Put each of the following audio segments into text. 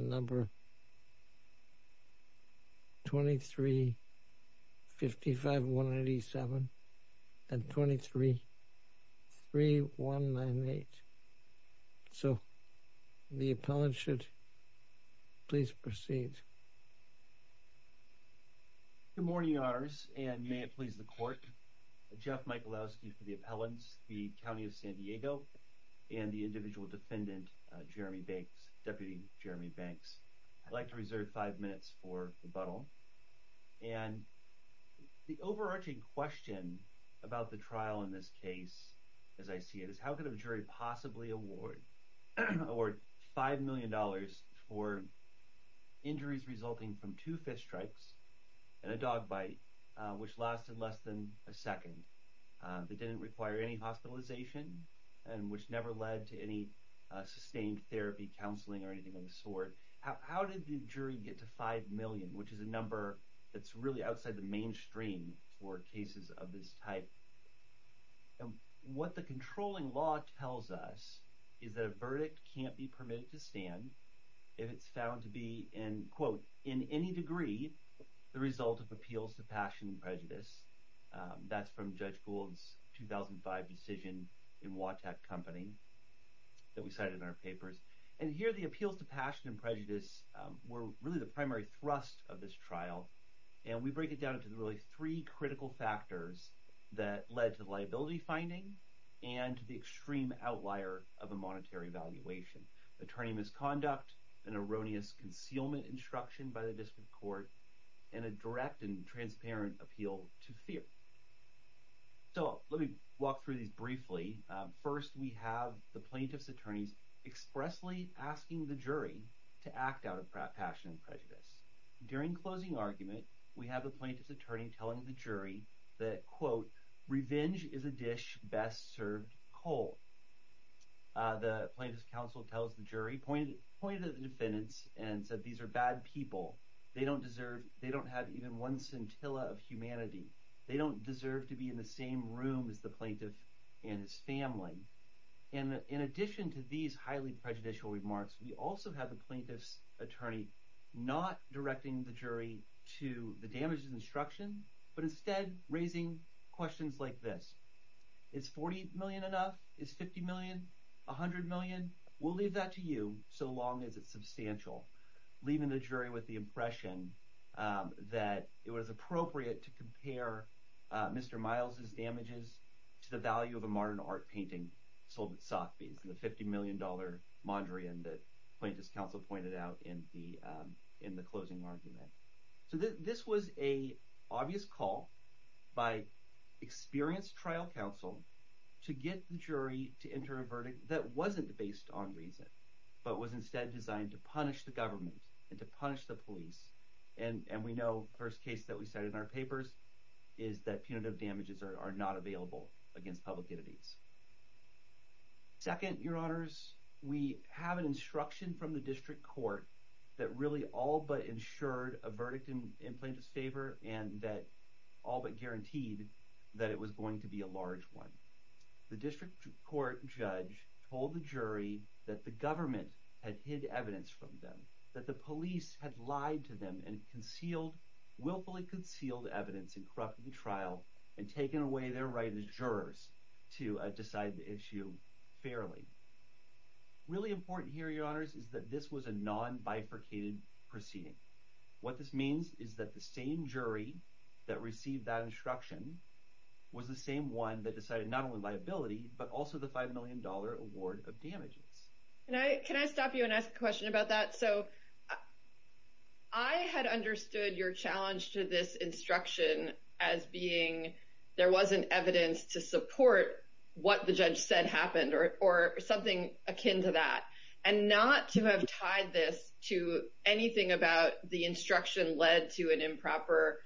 number 23 55 187 and 23 3 1 9 8 so the appellant should please proceed good morning honors and may it please the court Jeff Michalowski for the jury banks deputy Jeremy Banks I'd like to reserve five minutes for rebuttal and the overarching question about the trial in this case as I see it is how could a jury possibly award or five million dollars for injuries resulting from two fist strikes and a dog bite which lasted less than a second they didn't require any hospitalization and which never led to any sustained therapy counseling or anything of the sort how did the jury get to five million which is a number that's really outside the mainstream for cases of this type and what the controlling law tells us is that a verdict can't be permitted to stand if it's found to be in quote in any degree the result of appeals to passion prejudice that's from judge Gould's 2005 decision in Watak company that we cited in our papers and here the appeals to passion and prejudice were really the primary thrust of this trial and we break it down into the really three critical factors that led to liability finding and the extreme outlier of a monetary valuation attorney misconduct an erroneous concealment instruction by the court in a direct and transparent appeal to fear so let me walk through these briefly first we have the plaintiff's attorneys expressly asking the jury to act out of passion and prejudice during closing argument we have the plaintiff's attorney telling the jury that quote revenge is a dish best served cold the plaintiff's counsel tells the jury pointed pointed at the and said these are bad people they don't deserve they don't have even one scintilla of humanity they don't deserve to be in the same room as the plaintiff and his family and in addition to these highly prejudicial remarks we also have the plaintiff's attorney not directing the jury to the damages instruction but instead raising questions like this it's 40 million enough is 50 million 100 million we'll leave that to you so long as it's substantial leaving the jury with the impression that it was appropriate to compare mr. Miles's damages to the value of a modern art painting sold at Sotheby's and the 50 million dollar Mondrian that plaintiff's counsel pointed out in the in the closing argument so this was a obvious call by experienced trial counsel to get the jury to enter a verdict that wasn't based on reason but was instead designed to punish the government and to punish the police and and we know first case that we said in our papers is that punitive damages are not available against public entities second your honors we have an instruction from the district court that really all but ensured a verdict in in plaintiff's favor and that all but guaranteed that it was going to be a large one the district court judge told the jury that the government had hid evidence from them that the police had lied to them and concealed willfully concealed evidence and corrupted the trial and taken away their right as jurors to decide the issue fairly really important here your honors is that this was a non bifurcated proceeding what this means is that the same jury that received that instruction was the same one that decided not only liability but also the five million dollar award of damages and I can I stop you and ask a question about that so I had understood your challenge to this instruction as being there wasn't evidence to support what the judge said happened or something akin to that and not to have tied this to anything about the instruction led to an improper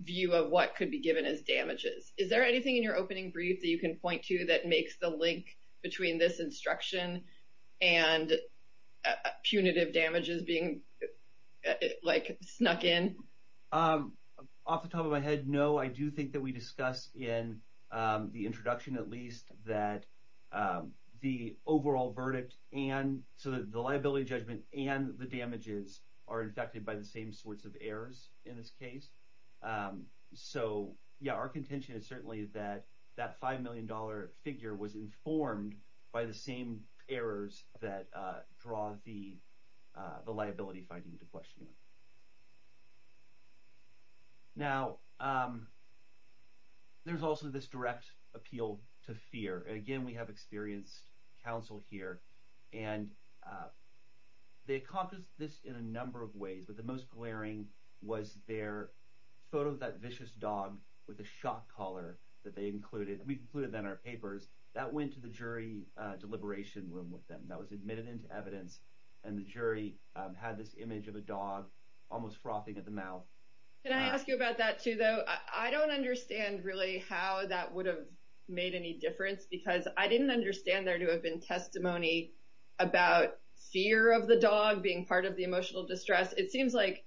view of what could be given as damages is there anything in your opening brief that you can point to that makes the link between this instruction and punitive damages being like snuck in off the top of my head no I do think that we discuss in the introduction at least that the overall verdict and so that the liability judgment and the damages are infected by the same sorts of errors in this case so yeah our contention is certainly that that five million dollar figure was informed by the same errors that draw the the liability finding to question now there's also this direct appeal to fear and again we have experienced counsel here and they accomplished this in a number of ways but the most glaring was their photo that vicious dog with a shock collar that they included we've included that in our papers that went to the jury deliberation room with them that was admitted into evidence and the jury had this image of a dog almost frothing at the mouth can I ask you about that too though I don't understand really how that would have made any difference because I didn't understand there to have been testimony about fear of the dog being part of the emotional distress it seems like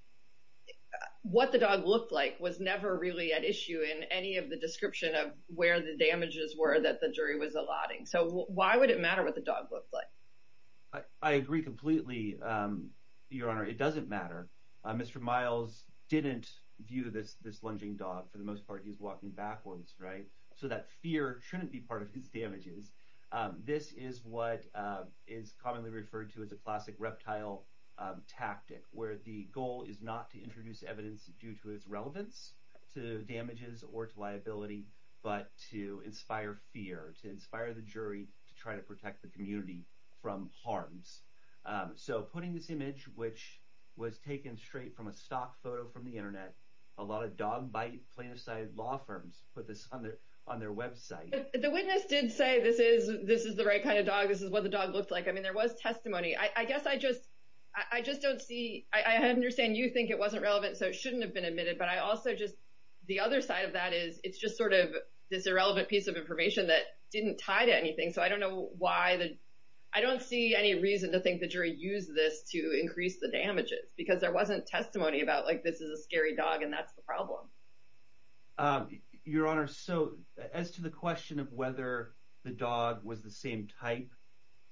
what the dog looked like was never really at issue in any of the description of where the damages were that the jury was allotting so why would it matter what the dog looked like I agree completely your honor it doesn't matter mr. Miles didn't view this this lunging dog for the most part he's walking backwards right so that fear shouldn't be part of his damages this is what is commonly referred to as a classic reptile tactic where the goal is not to introduce evidence due to its relevance to damages or to liability but to inspire fear to inspire the jury to try to protect the community from harms so putting this image which was taken straight from a stock photo from the internet a lot of dog bite plaintiff law firms put this on their on their website the witness did say this is this is the right kind of dog this is what the dog looked like I mean there was testimony I guess I just I just don't see I understand you think it wasn't relevant so it shouldn't have been admitted but I also just the other side of that is it's just sort of this irrelevant piece of information that didn't tie to anything so I don't know why the I don't see any reason to think the jury used this to increase the damages because there wasn't testimony about like this is a scary dog and that's the problem your honor so as to the question of whether the dog was the same type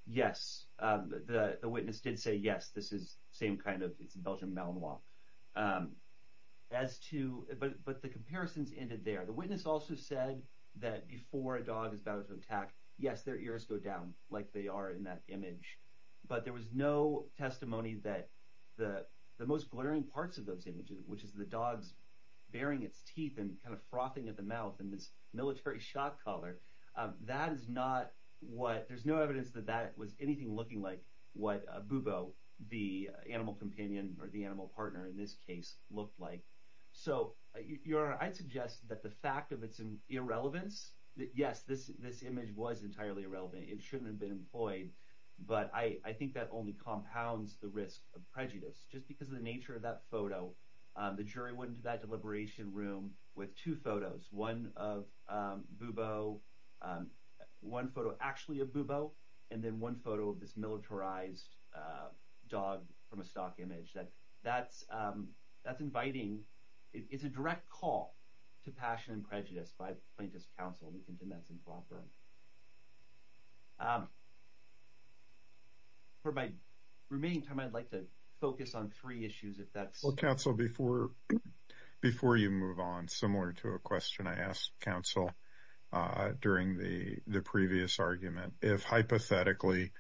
yes the witness did say yes this is same kind of it's a Belgian Malinois as to but but the comparisons ended there the witness also said that before a dog is about to attack yes their ears go down like they are in that image but there was no testimony that the most glaring parts of those images which is the dogs baring its teeth and kind of frothing at the mouth and this military shot-caller that is not what there's no evidence that that was anything looking like what a boo-boo the animal companion or the animal partner in this case looked like so your I'd suggest that the fact of its in irrelevance that yes this this image was entirely irrelevant it shouldn't have been employed but I I think that only compounds the risk of prejudice just because of the nature of that photo the jury went into that deliberation room with two photos one of boo-boo one photo actually a boo-boo and then one photo of this militarized dog from a stock image that that's that's inviting it's a direct call to passion and prejudice by plaintiffs counsel that's improper for my remaining time I'd like to focus on three issues if that's what counsel before before you move on similar to a question I asked counsel during the the previous argument if hypothetically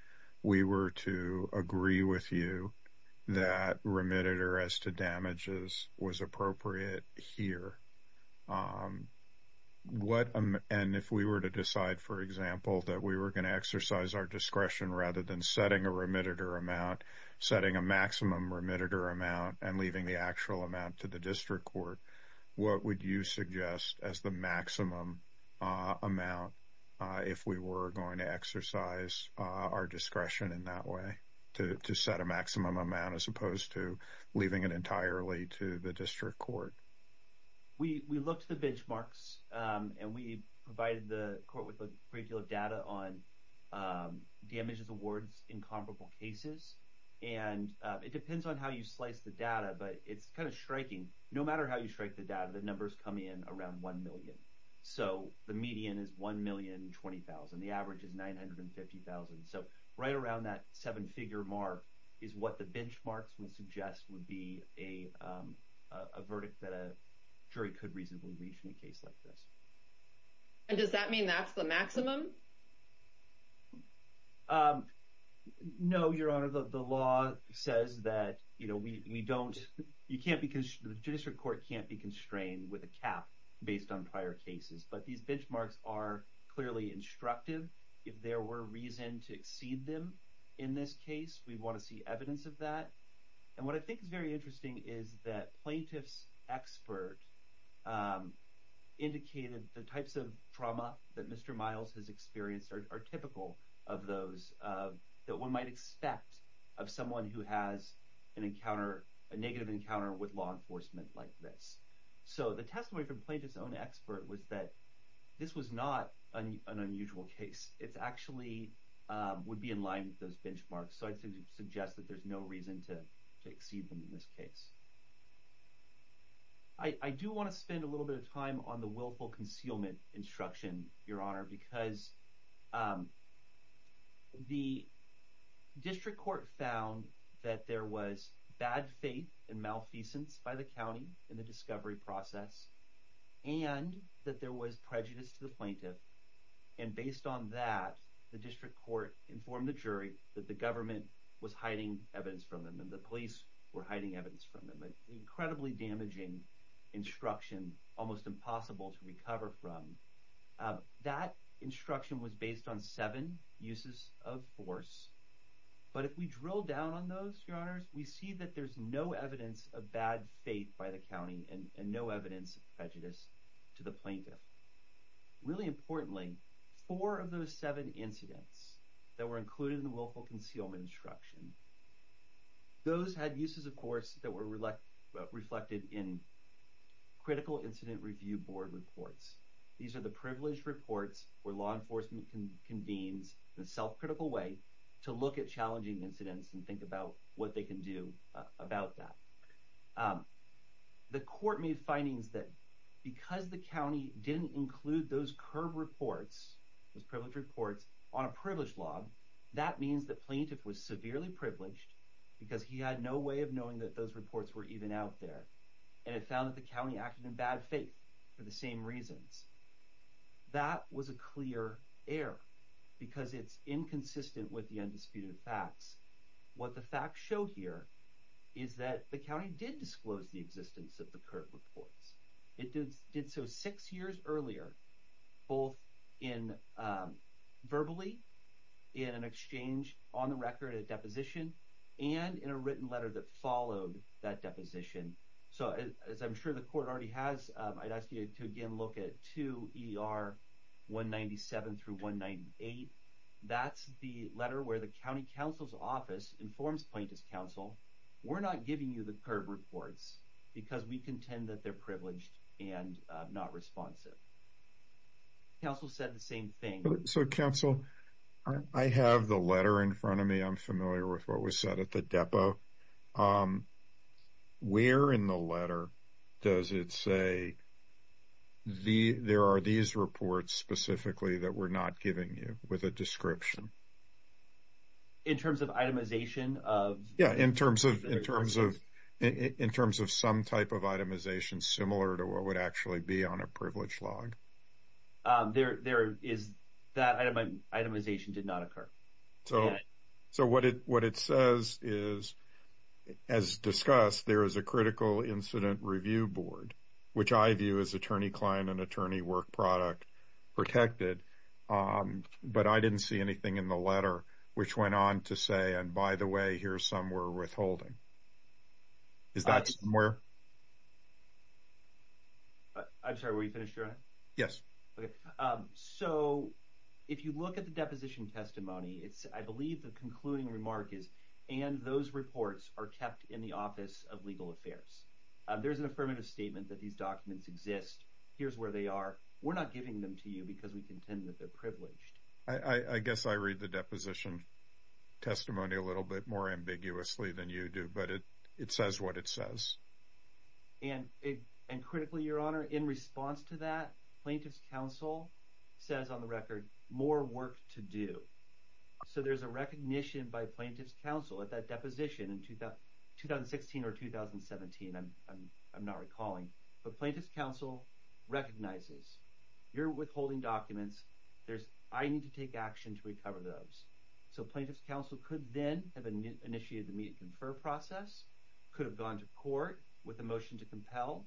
we were to agree with you that remitted or as to damages was appropriate here what and if we were to decide for example that we were going to exercise our discretion rather than setting a remitted or amount setting a maximum remitted or amount and leaving the actual amount to the district court what would you suggest as the maximum amount if we were going to exercise our discretion in that way to set a maximum amount as opposed to leaving it entirely to the district court we looked at the benchmarks and we provided the court with a great deal of data on damages awards in comparable cases and it depends on how you slice the data but it's kind of striking no matter how you strike the data the numbers come in around 1 million so the median is 1 million 20,000 the average is 950,000 so right around that seven figure mark is what the benchmarks will suggest would be a verdict that a jury could reasonably reach in a case like this and does that mean that's the maximum no your honor the law says that you know we don't you can't because the district court can't be constrained with a cap based on prior cases but these benchmarks are clearly instructive if there were reason to exceed them in this case we want to see evidence of that and what I think is very interesting is that plaintiffs expert indicated the types of trauma that mr. miles has experienced are typical of those that one might expect of someone who has an encounter a negative encounter with law enforcement like this so the testimony from plaintiffs own expert was that this was not an unusual case it's actually would be in line with those benchmarks so I think you suggest that there's no reason to exceed them in this case I do want to spend a little bit of time on the willful concealment instruction your honor because the district court found that there was bad and malfeasance by the county in the discovery process and that there was prejudice to the plaintiff and based on that the district court informed the jury that the government was hiding evidence from them and the police were hiding evidence from them an incredibly damaging instruction almost impossible to recover from that instruction was based on seven uses of force but if we down on those your honors we see that there's no evidence of bad faith by the county and no evidence of prejudice to the plaintiff really importantly four of those seven incidents that were included in the willful concealment instruction those had uses of course that were reflected in critical incident review board reports these are the privileged reports where law enforcement can the self-critical way to look at challenging incidents and think about what they can do about that the court made findings that because the county didn't include those curb reports those privileged reports on a privileged log that means that plaintiff was severely privileged because he had no way of knowing that those reports were even out there and it found that the county acted in bad faith for the same reasons that was a clear error because it's inconsistent with the undisputed facts what the facts show here is that the county did disclose the existence of the curb reports it did did so six years earlier both in verbally in an exchange on the record a deposition and in a letter that followed that deposition so as I'm sure the court already has I'd ask you to again look at to er 197 through 198 that's the letter where the county council's office informs plaintiff's counsel we're not giving you the curb reports because we contend that they're privileged and not responsive counsel said the same thing so counsel I have the letter in front of me I'm familiar with what was said at the depo where in the letter does it say the there are these reports specifically that we're not giving you with a description in terms of itemization of yeah in terms of in terms of in terms of some type of itemization similar to what would actually be on a privileged log there there is that itemization did not occur so so what it what it says is as discussed there is a critical incident review board which I view as attorney client and attorney work product protected but I didn't see anything in the letter which went on to say and by the way here's some we're withholding is more I'm sorry we finished yes okay so if you look at the deposition testimony it's I believe the concluding remark is and those reports are kept in the office of legal affairs there's an affirmative statement that these documents exist here's where they are we're not giving them to you because we contend that they're privileged I I guess I read the deposition testimony a little bit more than you do but it it says what it says and it and critically your honor in response to that plaintiffs counsel says on the record more work to do so there's a recognition by plaintiffs counsel at that deposition in 2016 or 2017 I'm not recalling but plaintiffs counsel recognizes you're withholding documents there's I need to take action to recover those so plaintiffs counsel could then have initiated the meet and confer process could have gone to court with a motion to compel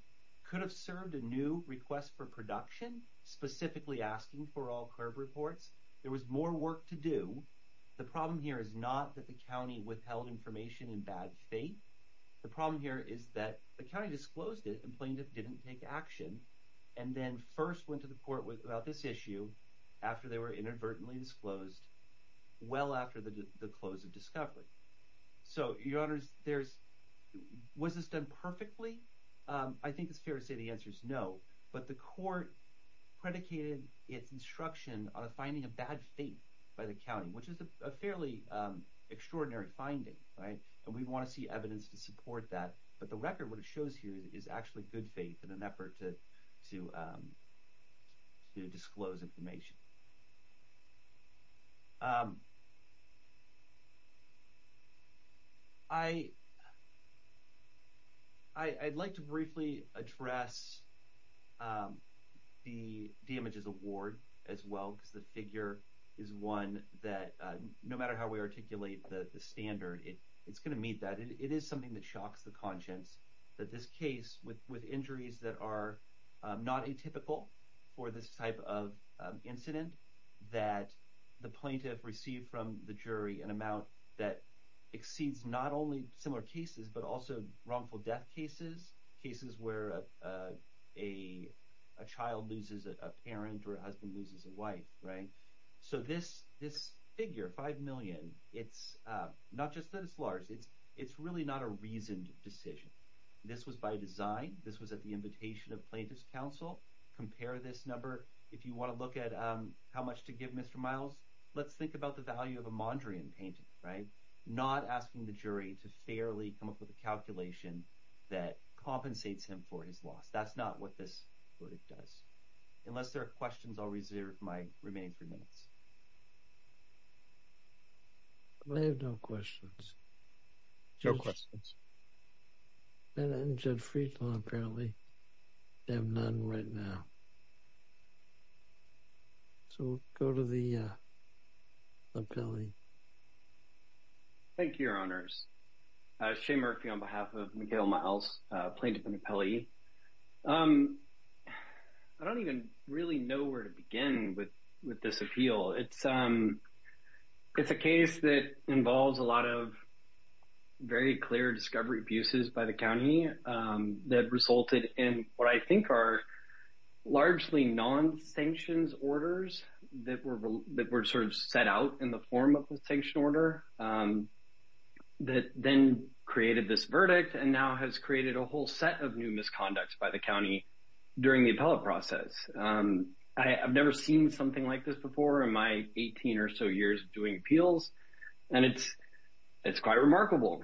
could have served a new request for production specifically asking for all curb reports there was more work to do the problem here is not that the county withheld information in bad faith the problem here is that the county disclosed it and plaintiff didn't take action and then first went to the court with about this issue after they were inadvertently disclosed well after the close of discovery so your honors there's was this done perfectly I think it's fair to say the answer is no but the court predicated its instruction on a finding of bad faith by the county which is a fairly extraordinary finding right and we want to see evidence to support that but the record what it shows here is actually good faith in an effort to to to disclose information I I'd like to briefly address the damages award as well because the figure is one that no matter how we articulate the standard it it's gonna meet that it is something that shocks the conscience that this case with with injuries that are not atypical for this type of incident that the plaintiff received from the jury an amount that exceeds not only similar cases but also wrongful death cases cases where a child loses a parent or husband loses a wife right so this this figure five million it's not just that it's large it's it's really not a reasoned decision this was by design this was at the invitation of plaintiffs counsel compare this number if you want to look at how much to give mr. Miles let's think about the value of a Mondrian painting right not asking the jury to fairly come up with a calculation that compensates him for his loss that's not what this what it does unless there are questions I'll reserve my remaining three minutes I have no questions no questions and engine freedom apparently they have none right now so go to the appellee thank you your honors shame Murphy on behalf of Mikhail my house plaintiff and I don't even really know where to begin with with this appeal it's um it's a case that involves a lot of very clear discovery abuses by the county that resulted in what I think are largely non sanctions orders that were that were sort of set out in the form of the sanction order that then created this verdict and now has created a whole set of new misconducts by the county during the appellate process I've never seen something like this before in my 18 or so years doing appeals and it's it's quite remarkable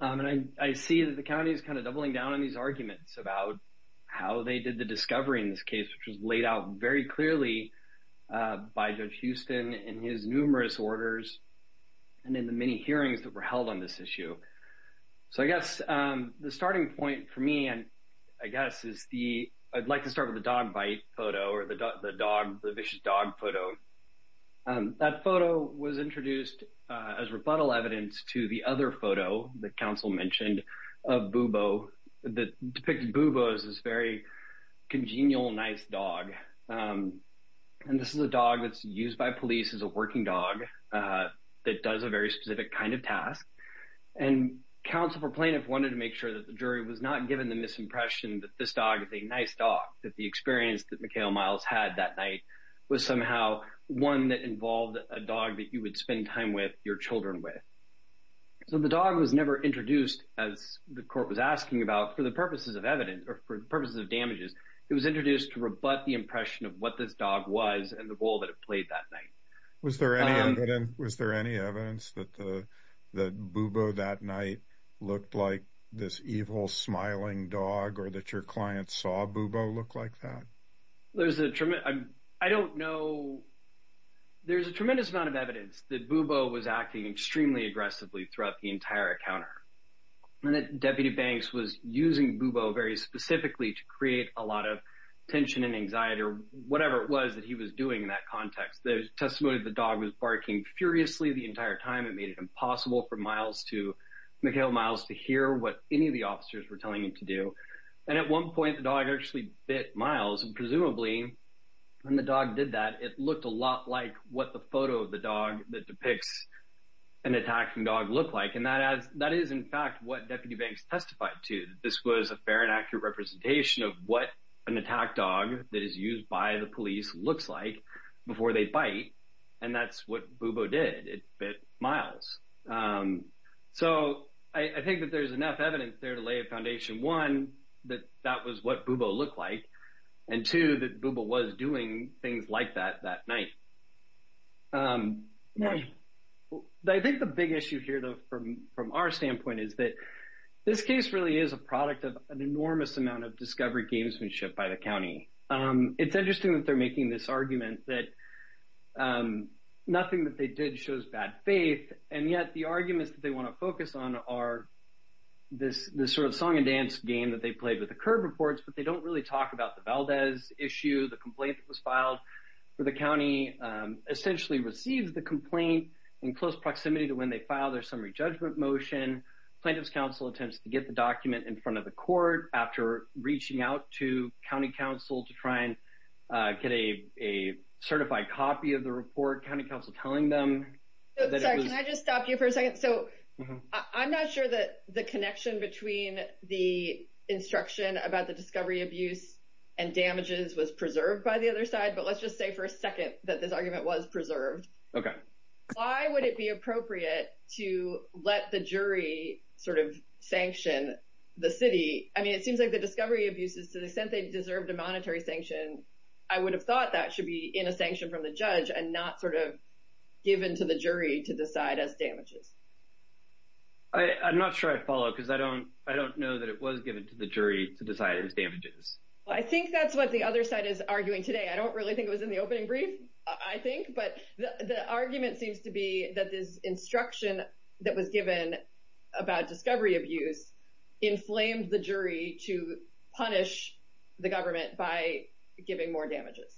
and I see that the county is kind of doubling down on these arguments about how they did the discovery in this case which was laid out very clearly by Judge Houston in his numerous orders and in the many hearings that were held on this issue so I guess the starting point for me and I guess is the I'd like to start with a dog bite photo or the dog the vicious dog photo that photo was introduced as rebuttal evidence to the other photo the council mentioned of bubo that depicted bubo's is very congenial nice dog and this is a dog that's used by police as a working dog that does a very specific kind of task and counsel for plaintiff wanted to make sure that the jury was not given the misimpression that this dog is a nice dog that the experience that Mikhail Myles had that night was somehow one that involved a dog that you would spend time with your children with so the dog was never introduced as the court was asking about for the purposes of evidence or for purposes of damages it was introduced to rebut the impression of what this dog was and the role that it played that night was there was there any evidence that the bubo that night looked like this evil smiling dog or that your clients saw bubo look like that there's a trim I'm I don't know there's a tremendous amount of evidence that bubo was acting extremely aggressively throughout the entire encounter and that deputy banks was using bubo very specifically to create a lot of tension and anxiety or whatever it was that he was doing in that context there's testimony the dog was barking furiously the entire time it made it impossible for Myles to Mikhail Myles to hear what any of the officers were telling him to do and at one point the dog actually bit Myles and presumably when the dog did that it looked a lot like what the photo of the dog that depicts an attacking dog look like and that as that is in fact what deputy banks testified to this was a fair and accurate representation of what an attack dog that is used by the police looks like before they bite and that's what bubo did it bit Myles so I think that there's enough evidence there to lay a foundation one that that was what bubo look like and to the bubo was doing things like that that night I think the big issue here though from from our standpoint is that this case really is a product of an enormous amount of discovery gamesmanship by the county it's interesting that they're making this argument that nothing that they did shows bad faith and yet the arguments that they want to focus on are this the sort of song and dance game that they played with the curb reports but they don't really talk about the Valdez issue the complaint that was filed for the essentially receives the complaint in close proximity to when they file their summary judgment motion plaintiffs counsel attempts to get the document in front of the court after reaching out to County Council to try and get a certified copy of the report County Council telling them stop you for a second so I'm not sure that the connection between the instruction about the discovery abuse and damages was preserved by the other side but let's just say for a that this argument was preserved okay why would it be appropriate to let the jury sort of sanction the city I mean it seems like the discovery abuses to the extent they deserved a monetary sanction I would have thought that should be in a sanction from the judge and not sort of given to the jury to decide as damages I I'm not sure I follow because I don't I don't know that it was given to the jury to decide his damages I think that's what the other side is arguing today I don't really think it was in the opening brief I think but the argument seems to be that this instruction that was given about discovery abuse inflamed the jury to punish the government by giving more damages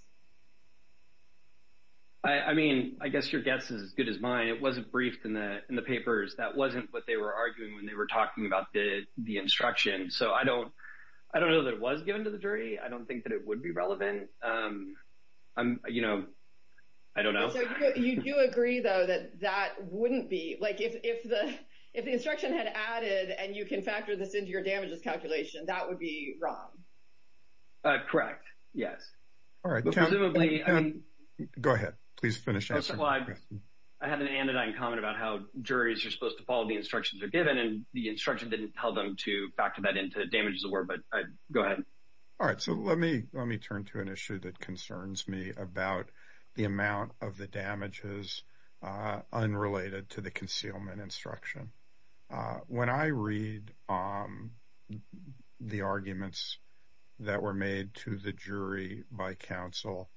I mean I guess your guess is as good as mine it wasn't briefed in the in the papers that wasn't what they were arguing when they were talking about the the instruction so I don't I don't know that it was given to the jury I don't think that it would be relevant I'm you know I don't know you do agree though that that wouldn't be like if the if the instruction had added and you can factor this into your damages calculation that would be wrong correct yes all right go ahead please finish I had an anodyne comment about how juries are supposed to follow the instructions are given and the instruction didn't tell them to factor that into damages award but I go ahead all right so let me let me turn to an issue that concerns me about the amount of the damages unrelated to the concealment instruction when I read the arguments that were made to the jury by counsel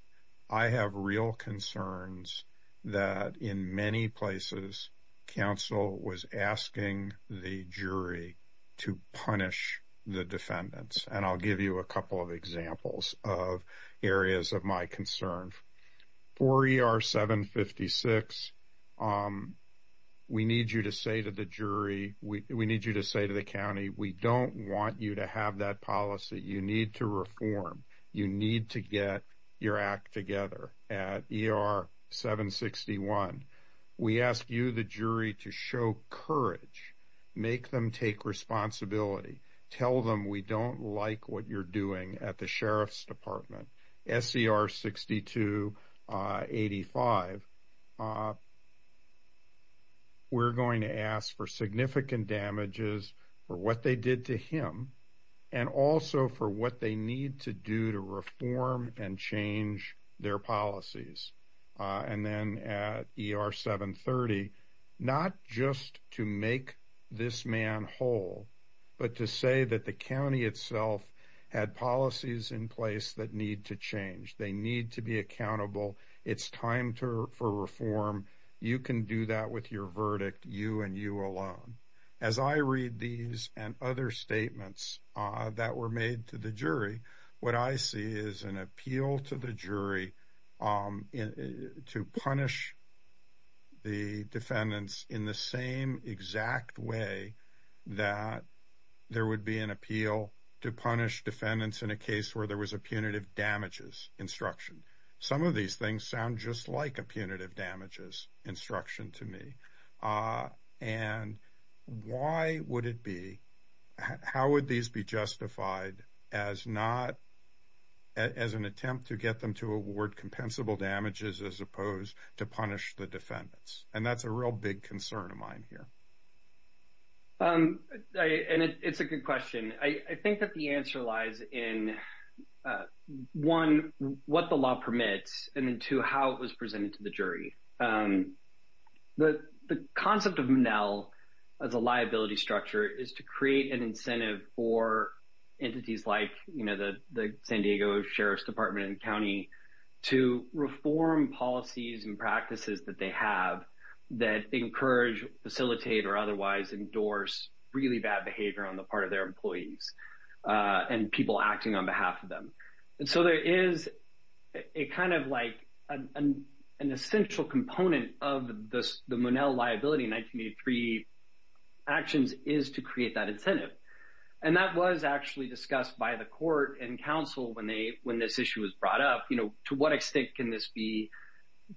I have real concerns that in many places counsel was asking the jury to punish the defendants and I'll give you a couple of examples of areas of my concerns for er 756 we need you to say to the jury we need you to say to the county we don't want you to have that policy you need to reform you need to get your act together at er 761 we ask you the jury to show courage make them take responsibility tell them we don't like what you're doing at the sheriff's department scr62 85 we're going to ask for significant damages for what they did to him and also for what they need to do to reform and change their policies and then er 730 not just to make this man whole but to say that the county itself had policies in place that need to change they need to be accountable it's time to for reform you can do that with your verdict you and you alone as I read these and other statements that were made to the jury what I see is an appeal to the jury to punish the defendants in the same exact way that there would be an appeal to punish defendants in a case where there was a punitive damages instruction some of these things sound just like a punitive damages instruction to me and why would it be how would these be justified as not as an attempt to get them to award compensable damages as opposed to punish the defendants and that's a real big concern of mine here and it's a good question I think that the answer lies in one what the law permits and into how it was presented to the jury that the concept of now as a structure is to create an incentive for entities like you know that the San Diego Sheriff's Department and County to reform policies and practices that they have that encourage facilitate or otherwise endorse really bad behavior on the part of their employees and people acting on behalf of them and so there is a kind of like an essential component of this the Monell liability 1983 actions is to create that incentive and that was actually discussed by the court and counsel when they when this issue was brought up you know to what extent can this be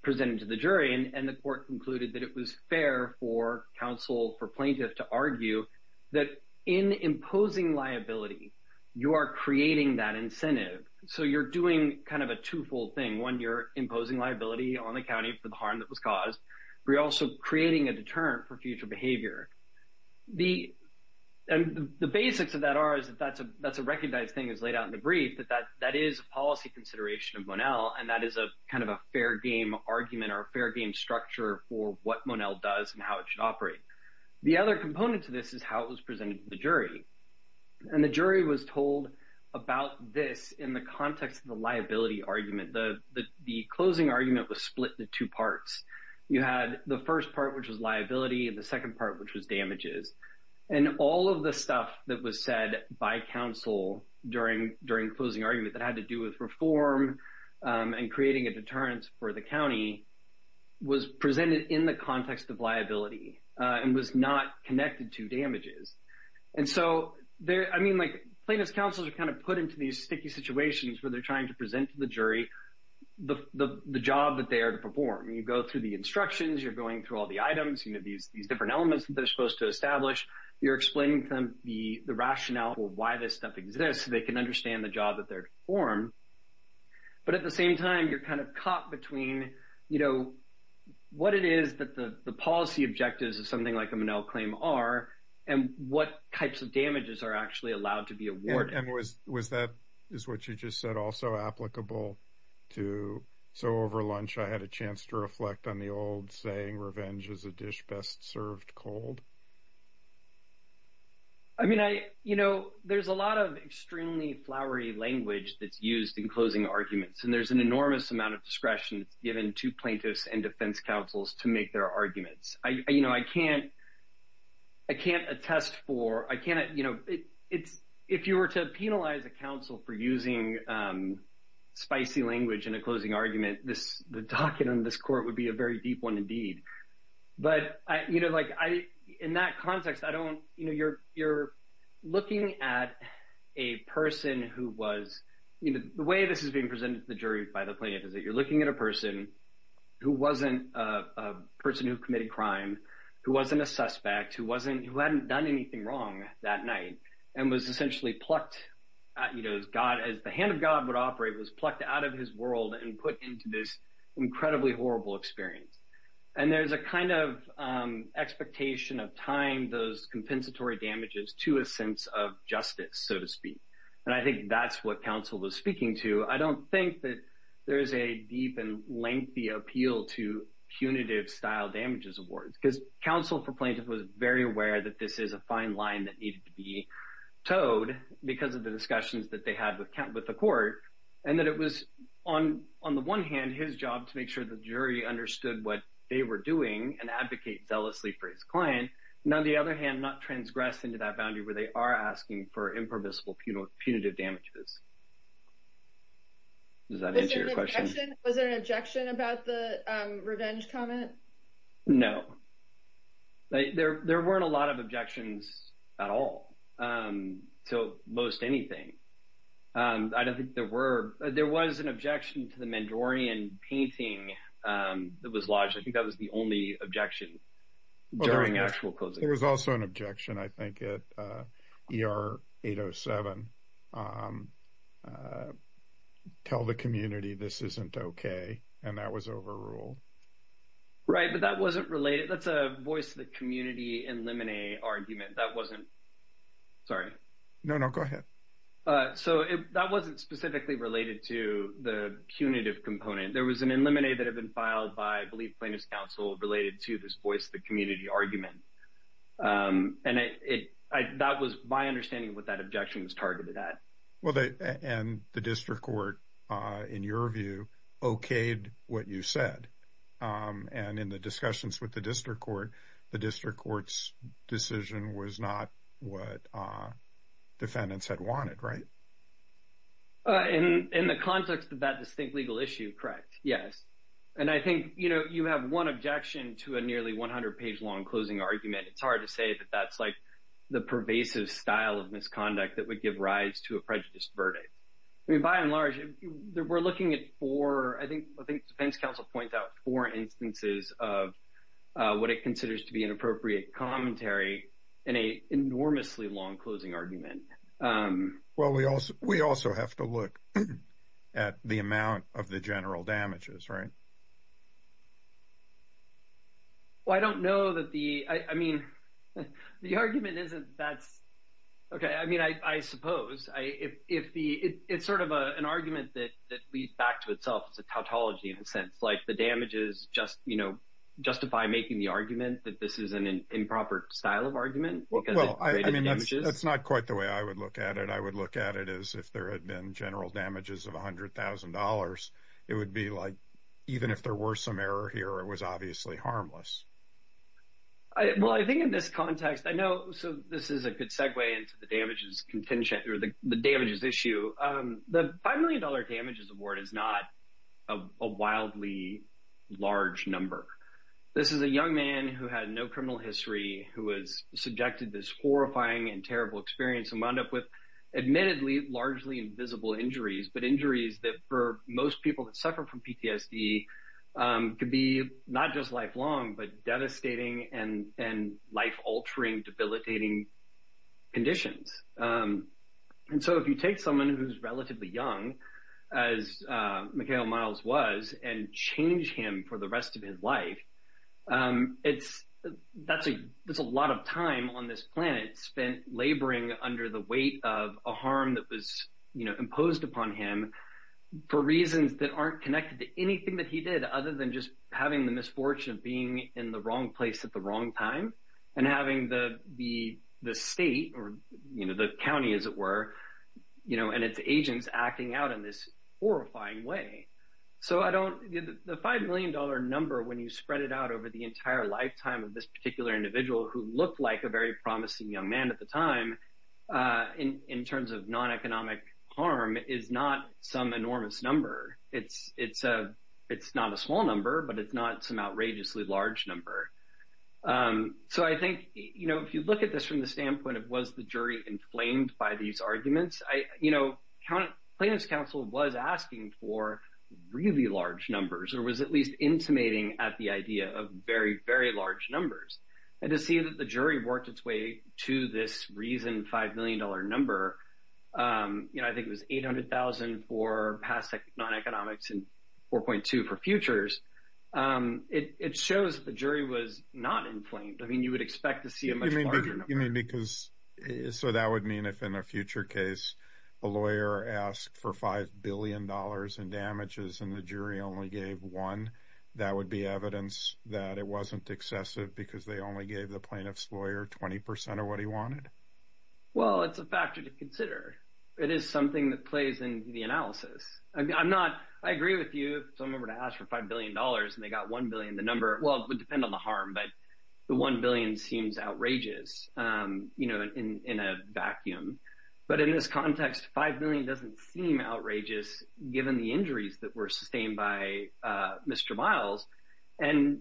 presented to the jury and the court concluded that it was fair for counsel for plaintiff to argue that in imposing liability you are creating that incentive so you're doing kind of a two-fold thing when you're imposing liability on the county for the harm that was caused we're also creating a deterrent for future behavior the and the basics of that are is that that's a that's a recognized thing is laid out in the brief that that that is policy consideration of Monell and that is a kind of a fair game argument or a fair game structure for what Monell does and how it should operate the other component to this is how it was presented to the jury and the jury was told about this in the context of the liability argument the the closing argument was split into two parts you had the first part which was liability and the second part which was damages and all of the stuff that was said by counsel during during closing argument that had to do with reform and creating a deterrence for the county was presented in the context of liability and was not connected to damages and so there I mean like plaintiff's counsels are kind of put into these sticky situations where they're trying to present to the jury the the job that they are to perform you go through the instructions you're going through all the items you know these these different elements that they're supposed to establish you're explaining to them the the rationale for why this stuff exists they can understand the job that they're to perform but at the same time you're kind of caught between you know what it is that the the policy objectives is something like I'm an L claim are and what types of damages are actually allowed to be a word and was was that is what you just said also applicable to so over lunch I had a chance to reflect on the old saying revenge is a dish best served cold I mean I you know there's a lot of extremely flowery language that's used in closing arguments and there's an enormous amount of discretion it's given to plaintiffs and defense counsels to make their arguments I you know I can't I can't attest for I can't you know it's if you were to penalize a counsel for using spicy language in a closing argument this the docket on this court would be a very deep one indeed but I you know like I in that context I don't you know you're you're looking at a person who was you know the way this is being presented to the jury by the you're looking at a person who wasn't a person who committed crime who wasn't a suspect who wasn't who hadn't done anything wrong that night and was essentially plucked you know as God as the hand of God would operate was plucked out of his world and put into this incredibly horrible experience and there's a kind of expectation of time those compensatory damages to a sense of justice so to speak and I think that's what counsel was speaking to I don't think that there is a deep and lengthy appeal to punitive style damages awards because counsel for plaintiff was very aware that this is a fine line that needed to be towed because of the discussions that they had with count with the court and that it was on on the one hand his job to make sure the jury understood what they were doing and advocate zealously for his client now the other hand not transgress into that boundary where they are asking for impermissible punitive punitive damages was there an objection about the revenge comment no like there there weren't a lot of objections at all so most anything I don't think there were there was an objection to the mandorian painting that was lodged I think that was the only objection during actual clothes it was also an objection I think it er 807 tell the community this isn't okay and that was overruled right but that wasn't related that's a voice the community and lemonade argument that wasn't sorry no no go ahead so if that wasn't specifically related to the punitive component there was an eliminated have been filed by belief related to this voice the community argument and it was my understanding what that objection was targeted at the district court in your view okayed what you said and in the discussions with the district court the district court's decision was not what defendants had wanted right in the context of that issue correct yes and I think you know you have one objection to a nearly 100 page long closing argument it's hard to say that that's like the pervasive style of misconduct that would give rise to a prejudiced verdict I mean by and large we're looking at for I think I think defense counsel points out four instances of what it considers to be an appropriate commentary in a enormously long closing argument well we also we also have to look at the amount of the general damages right well I don't know that the I mean the argument isn't that's okay I mean I suppose I if the it's sort of an argument that leads back to itself it's a tautology in a sense like the damages just you know justify making the that this is an improper style of argument well I mean that's not quite the way I would look at it I would look at it as if there had been general damages of $100,000 it would be like even if there were some error here it was obviously harmless I well I think in this context I know so this is a good segue into the damages contingent or the damages issue the five million dollar damages award is not a wildly large number this is a young man who had no criminal history who was subjected this horrifying and terrible experience and wound up with admittedly largely invisible injuries but injuries that for most people that suffer from PTSD could be not just lifelong but devastating and and life-altering debilitating conditions and so if you take someone who's relatively young as Mikhail Myles was and change him for the rest of his life it's that's a there's a lot of time on this planet spent laboring under the weight of a harm that was you know imposed upon him for reasons that aren't connected to anything that he did other than just having the misfortune of being in the wrong place at the wrong time and having the the the state or you know the as it were you know and its agents acting out in this horrifying way so I don't the five million dollar number when you spread it out over the entire lifetime of this particular individual who looked like a very promising young man at the time in terms of non-economic harm is not some enormous number it's it's a it's not a small number but it's not some outrageously large number so I think you know if you look at this from the standpoint of was the jury inflamed by these arguments I you know count plaintiffs counsel was asking for really large numbers or was at least intimating at the idea of very very large numbers and to see that the jury worked its way to this reason five million dollar number you know I think it was eight hundred thousand for past economics and four point two for futures it shows the jury was not inflamed I mean you would mean because so that would mean if in a future case a lawyer asked for five billion dollars in damages and the jury only gave one that would be evidence that it wasn't excessive because they only gave the plaintiffs lawyer 20% of what he wanted well it's a factor to consider it is something that plays in the analysis I'm not I agree with you someone asked for five billion dollars and they got one billion the number well it would depend on the harm but the one billion seems outrageous you know in a vacuum but in this context five million doesn't seem outrageous given the injuries that were sustained by mr. miles and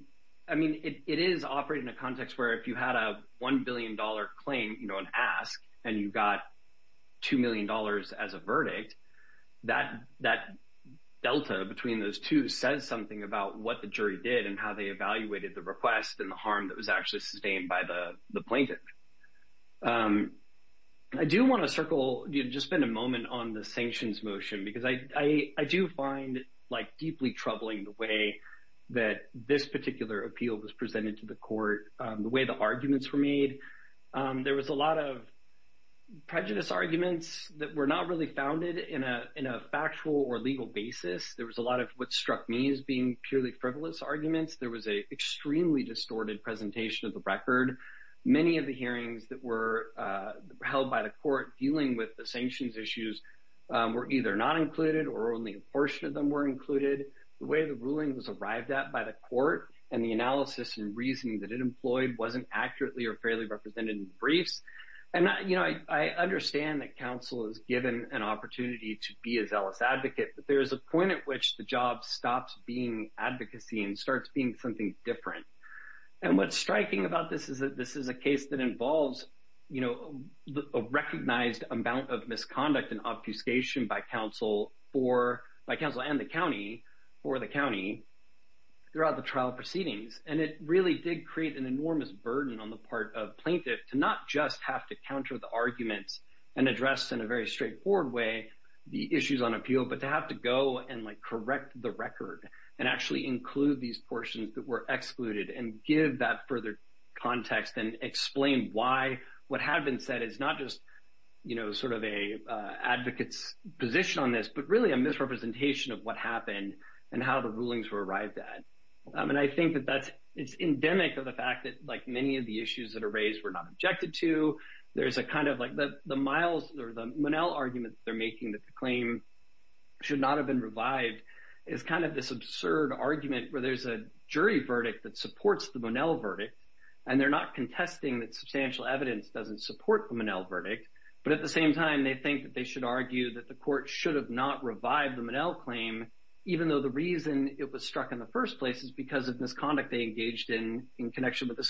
I mean it is operated in a context where if you had a 1 billion dollar claim you know and ask and you got two million dollars as a verdict that that Delta between those two says something about what the jury did and how they evaluated the request and the harm that was actually sustained by the the plaintiff I do want to circle you just spend a moment on the sanctions motion because I I do find like deeply troubling the way that this particular appeal was presented to the court the way the arguments were made there was a lot of prejudice arguments that were not really founded in a in a factual or legal basis there was a lot of what struck me as being purely frivolous arguments there was a extremely distorted presentation of the record many of the hearings that were held by the court dealing with the sanctions issues were either not included or only a portion of them were included the way the ruling was arrived at by the court and the analysis and reasoning that it employed wasn't accurately or fairly represented in briefs and not you know I understand that counsel is given an opportunity to be a zealous advocate but there's a point at which the job stops being advocacy and starts being something different and what's striking about this is that this is a case that involves you know a recognized amount of misconduct and obfuscation by counsel for my counsel and the county or the county throughout the trial proceedings and it really did create an enormous burden on the part of plaintiff to not just have to counter the arguments and address in a very straightforward way the issues on appeal but to have to go and like correct the record and actually include these portions that were excluded and give that further context and explain why what had been said it's not just you know sort of a advocates position on this but really a misrepresentation of what happened and how the rulings were arrived at and I think that that's it's endemic of the fact that like many of the issues that are raised were not objected to there's a kind of like that the miles or the Monell argument they're making that the claim should not have been revived is kind of this absurd argument where there's a jury verdict that supports the Monell verdict and they're not contesting that substantial evidence doesn't support the Monell verdict but at the same time they think that they should argue that the court should have not revived the Monell claim even though the reason it was struck in the first place is because of misconduct they engaged in in connection with the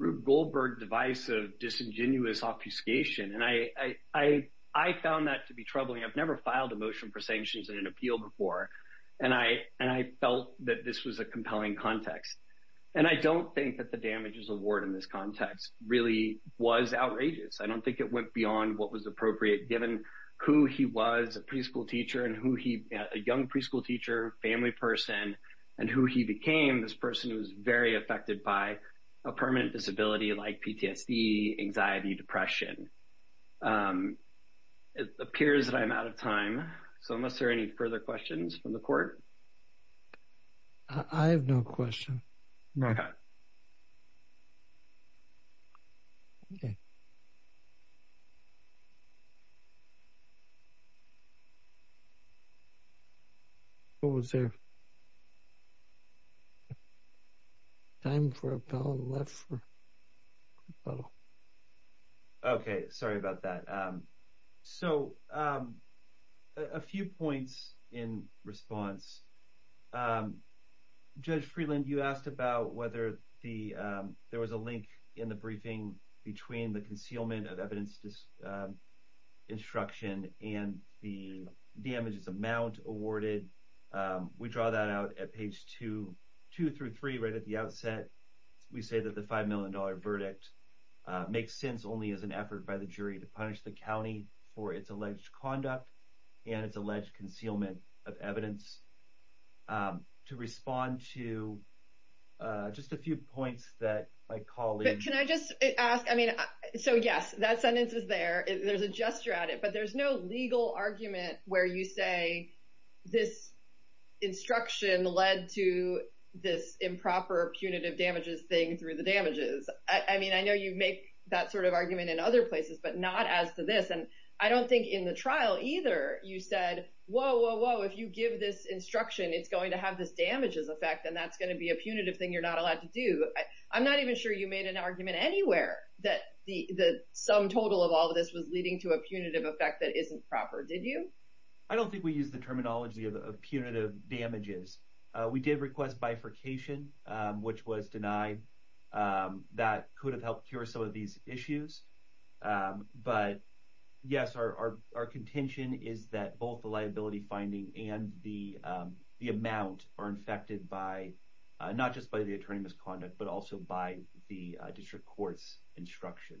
Rube Goldberg device of disingenuous obfuscation and I I found that to be troubling I've never filed a motion for sanctions in an appeal before and I and I felt that this was a compelling context and I don't think that the damages award in this context really was outrageous I don't think it went beyond what was appropriate given who he was a preschool teacher and who he a young preschool teacher family person and who he became this person who was very affected by a permanent disability like PTSD anxiety depression it appears that I'm out of time so unless there are any further questions from the court I have no question what was there time for a pound left okay sorry about that so a few points in response judge Freeland you asked about whether the there was a link in the briefing between the concealment of evidence destruction and the damages amount awarded we draw that out at page 2 2 through 3 right at the outset we say that the five million dollar verdict makes sense only as an effort by the jury to punish the county for its alleged conduct and its alleged concealment of evidence to respond to just a few points that my colleague can I just ask I mean so yes that sentence is there there's a gesture at it but there's no legal argument where you say this instruction led to this improper punitive damages thing through the damages I mean I know you make that sort of argument in other places but not as to this and I don't think in the trial either you said whoa whoa whoa if you give this instruction it's going to have this damages effect and that's going to be a punitive thing you're not allowed to do I'm not even sure you made an argument anywhere that the the sum total of all this was leading to a punitive effect that isn't proper did you I don't think we use the terminology of punitive damages we did request bifurcation which was denied that could have helped cure some of these issues but yes our contention is that both the liability finding and the the amount are infected by not just by the attorney misconduct but also by the district courts instruction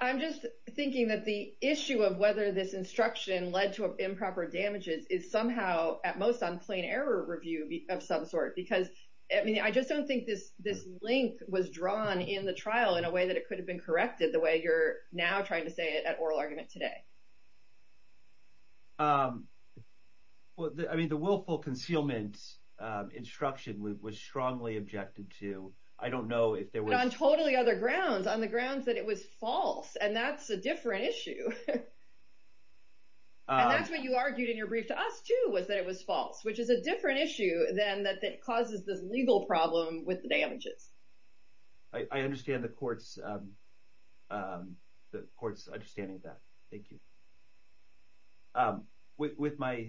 I'm just thinking that the issue of whether this instruction led to improper damages is somehow at most on plain error review of some sort because I mean I just don't think this this link was drawn in the trial in a way that it could have been corrected the way you're now trying to say it at oral argument today well I mean the willful concealment instruction was strongly objected to I don't know if they were on totally other grounds on the grounds that it was false and that's a different issue that's what you argued in your brief to us too was that it was false which is a different issue than that that causes this legal problem with the damages I understand the courts the courts understanding of that thank you with my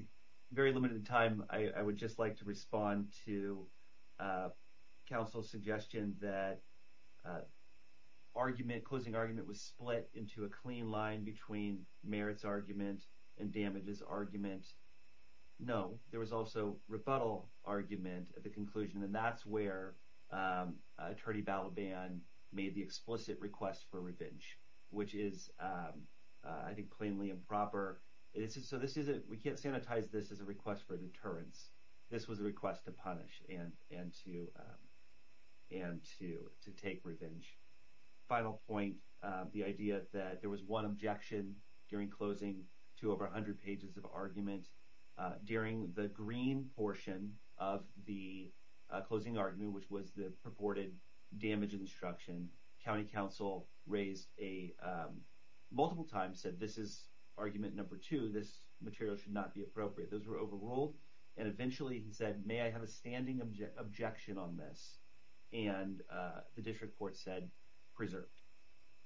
very limited time I would just like to respond to counsel suggestion that argument closing argument was split into a clean line between merits argument and damages argument no there was also rebuttal argument at the conclusion and that's where attorney ballot ban made the explicit request for revenge which is I think plainly improper it is so this is it we can't sanitize this as a request for deterrence this was a request to and and to and to to take revenge final point the idea that there was one objection during closing to over a hundred pages of argument during the green portion of the closing argument which was the purported damage instruction County Council raised a multiple times said this is argument number two this material should not be appropriate those were overruled and objection on this and the district court said preserved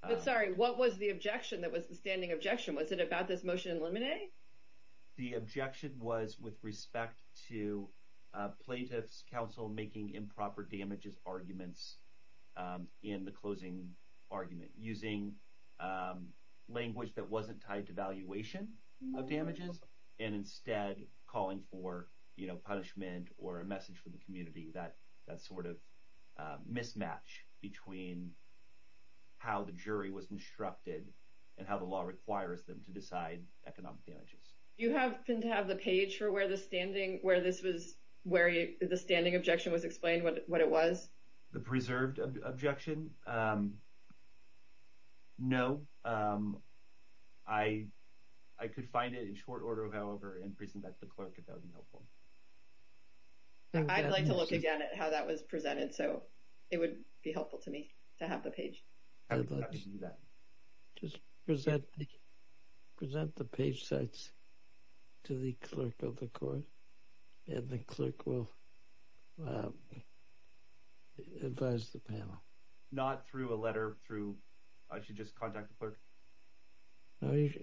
I'm sorry what was the objection that was the standing objection was it about this motion eliminating the objection was with respect to plaintiffs counsel making improper damages arguments in the closing argument using language that wasn't tied to valuation of damages and instead calling for you know punishment or a message for the community that that's sort of mismatch between how the jury was instructed and how the law requires them to decide economic damages you happen to have the page for where the standing where this was where you the standing objection was explained what what it was the preserved objection no I I could find it in short order however in prison that the clerk I'd like to look again at how that was presented so it would be helpful to me to have the page just present present the page sets to the clerk of the court and the clerk will advise the panel not through a letter through I should just unless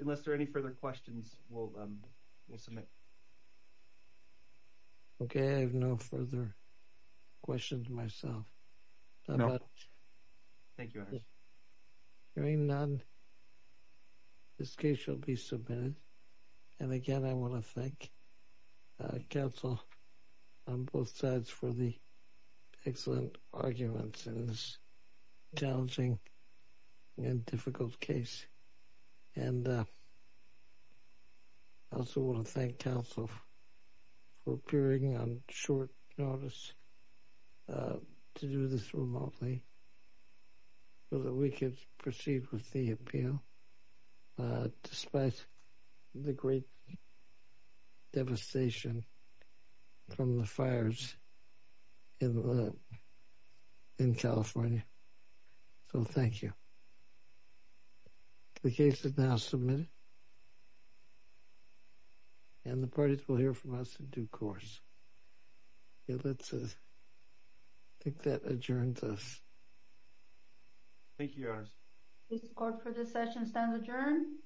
unless there any further questions will submit okay I have no further questions myself thank you very none this case shall be submitted and again I want to thank counsel on both sides for the excellent arguments in this challenging and difficult case and I also want to thank counsel for appearing on short notice to do this remotely so that we could proceed with the appeal despite the great devastation from the fires in in California so thank you the case is now submitted and the parties will hear from us in due course let's think that adjourns us thank you for this session stand adjourned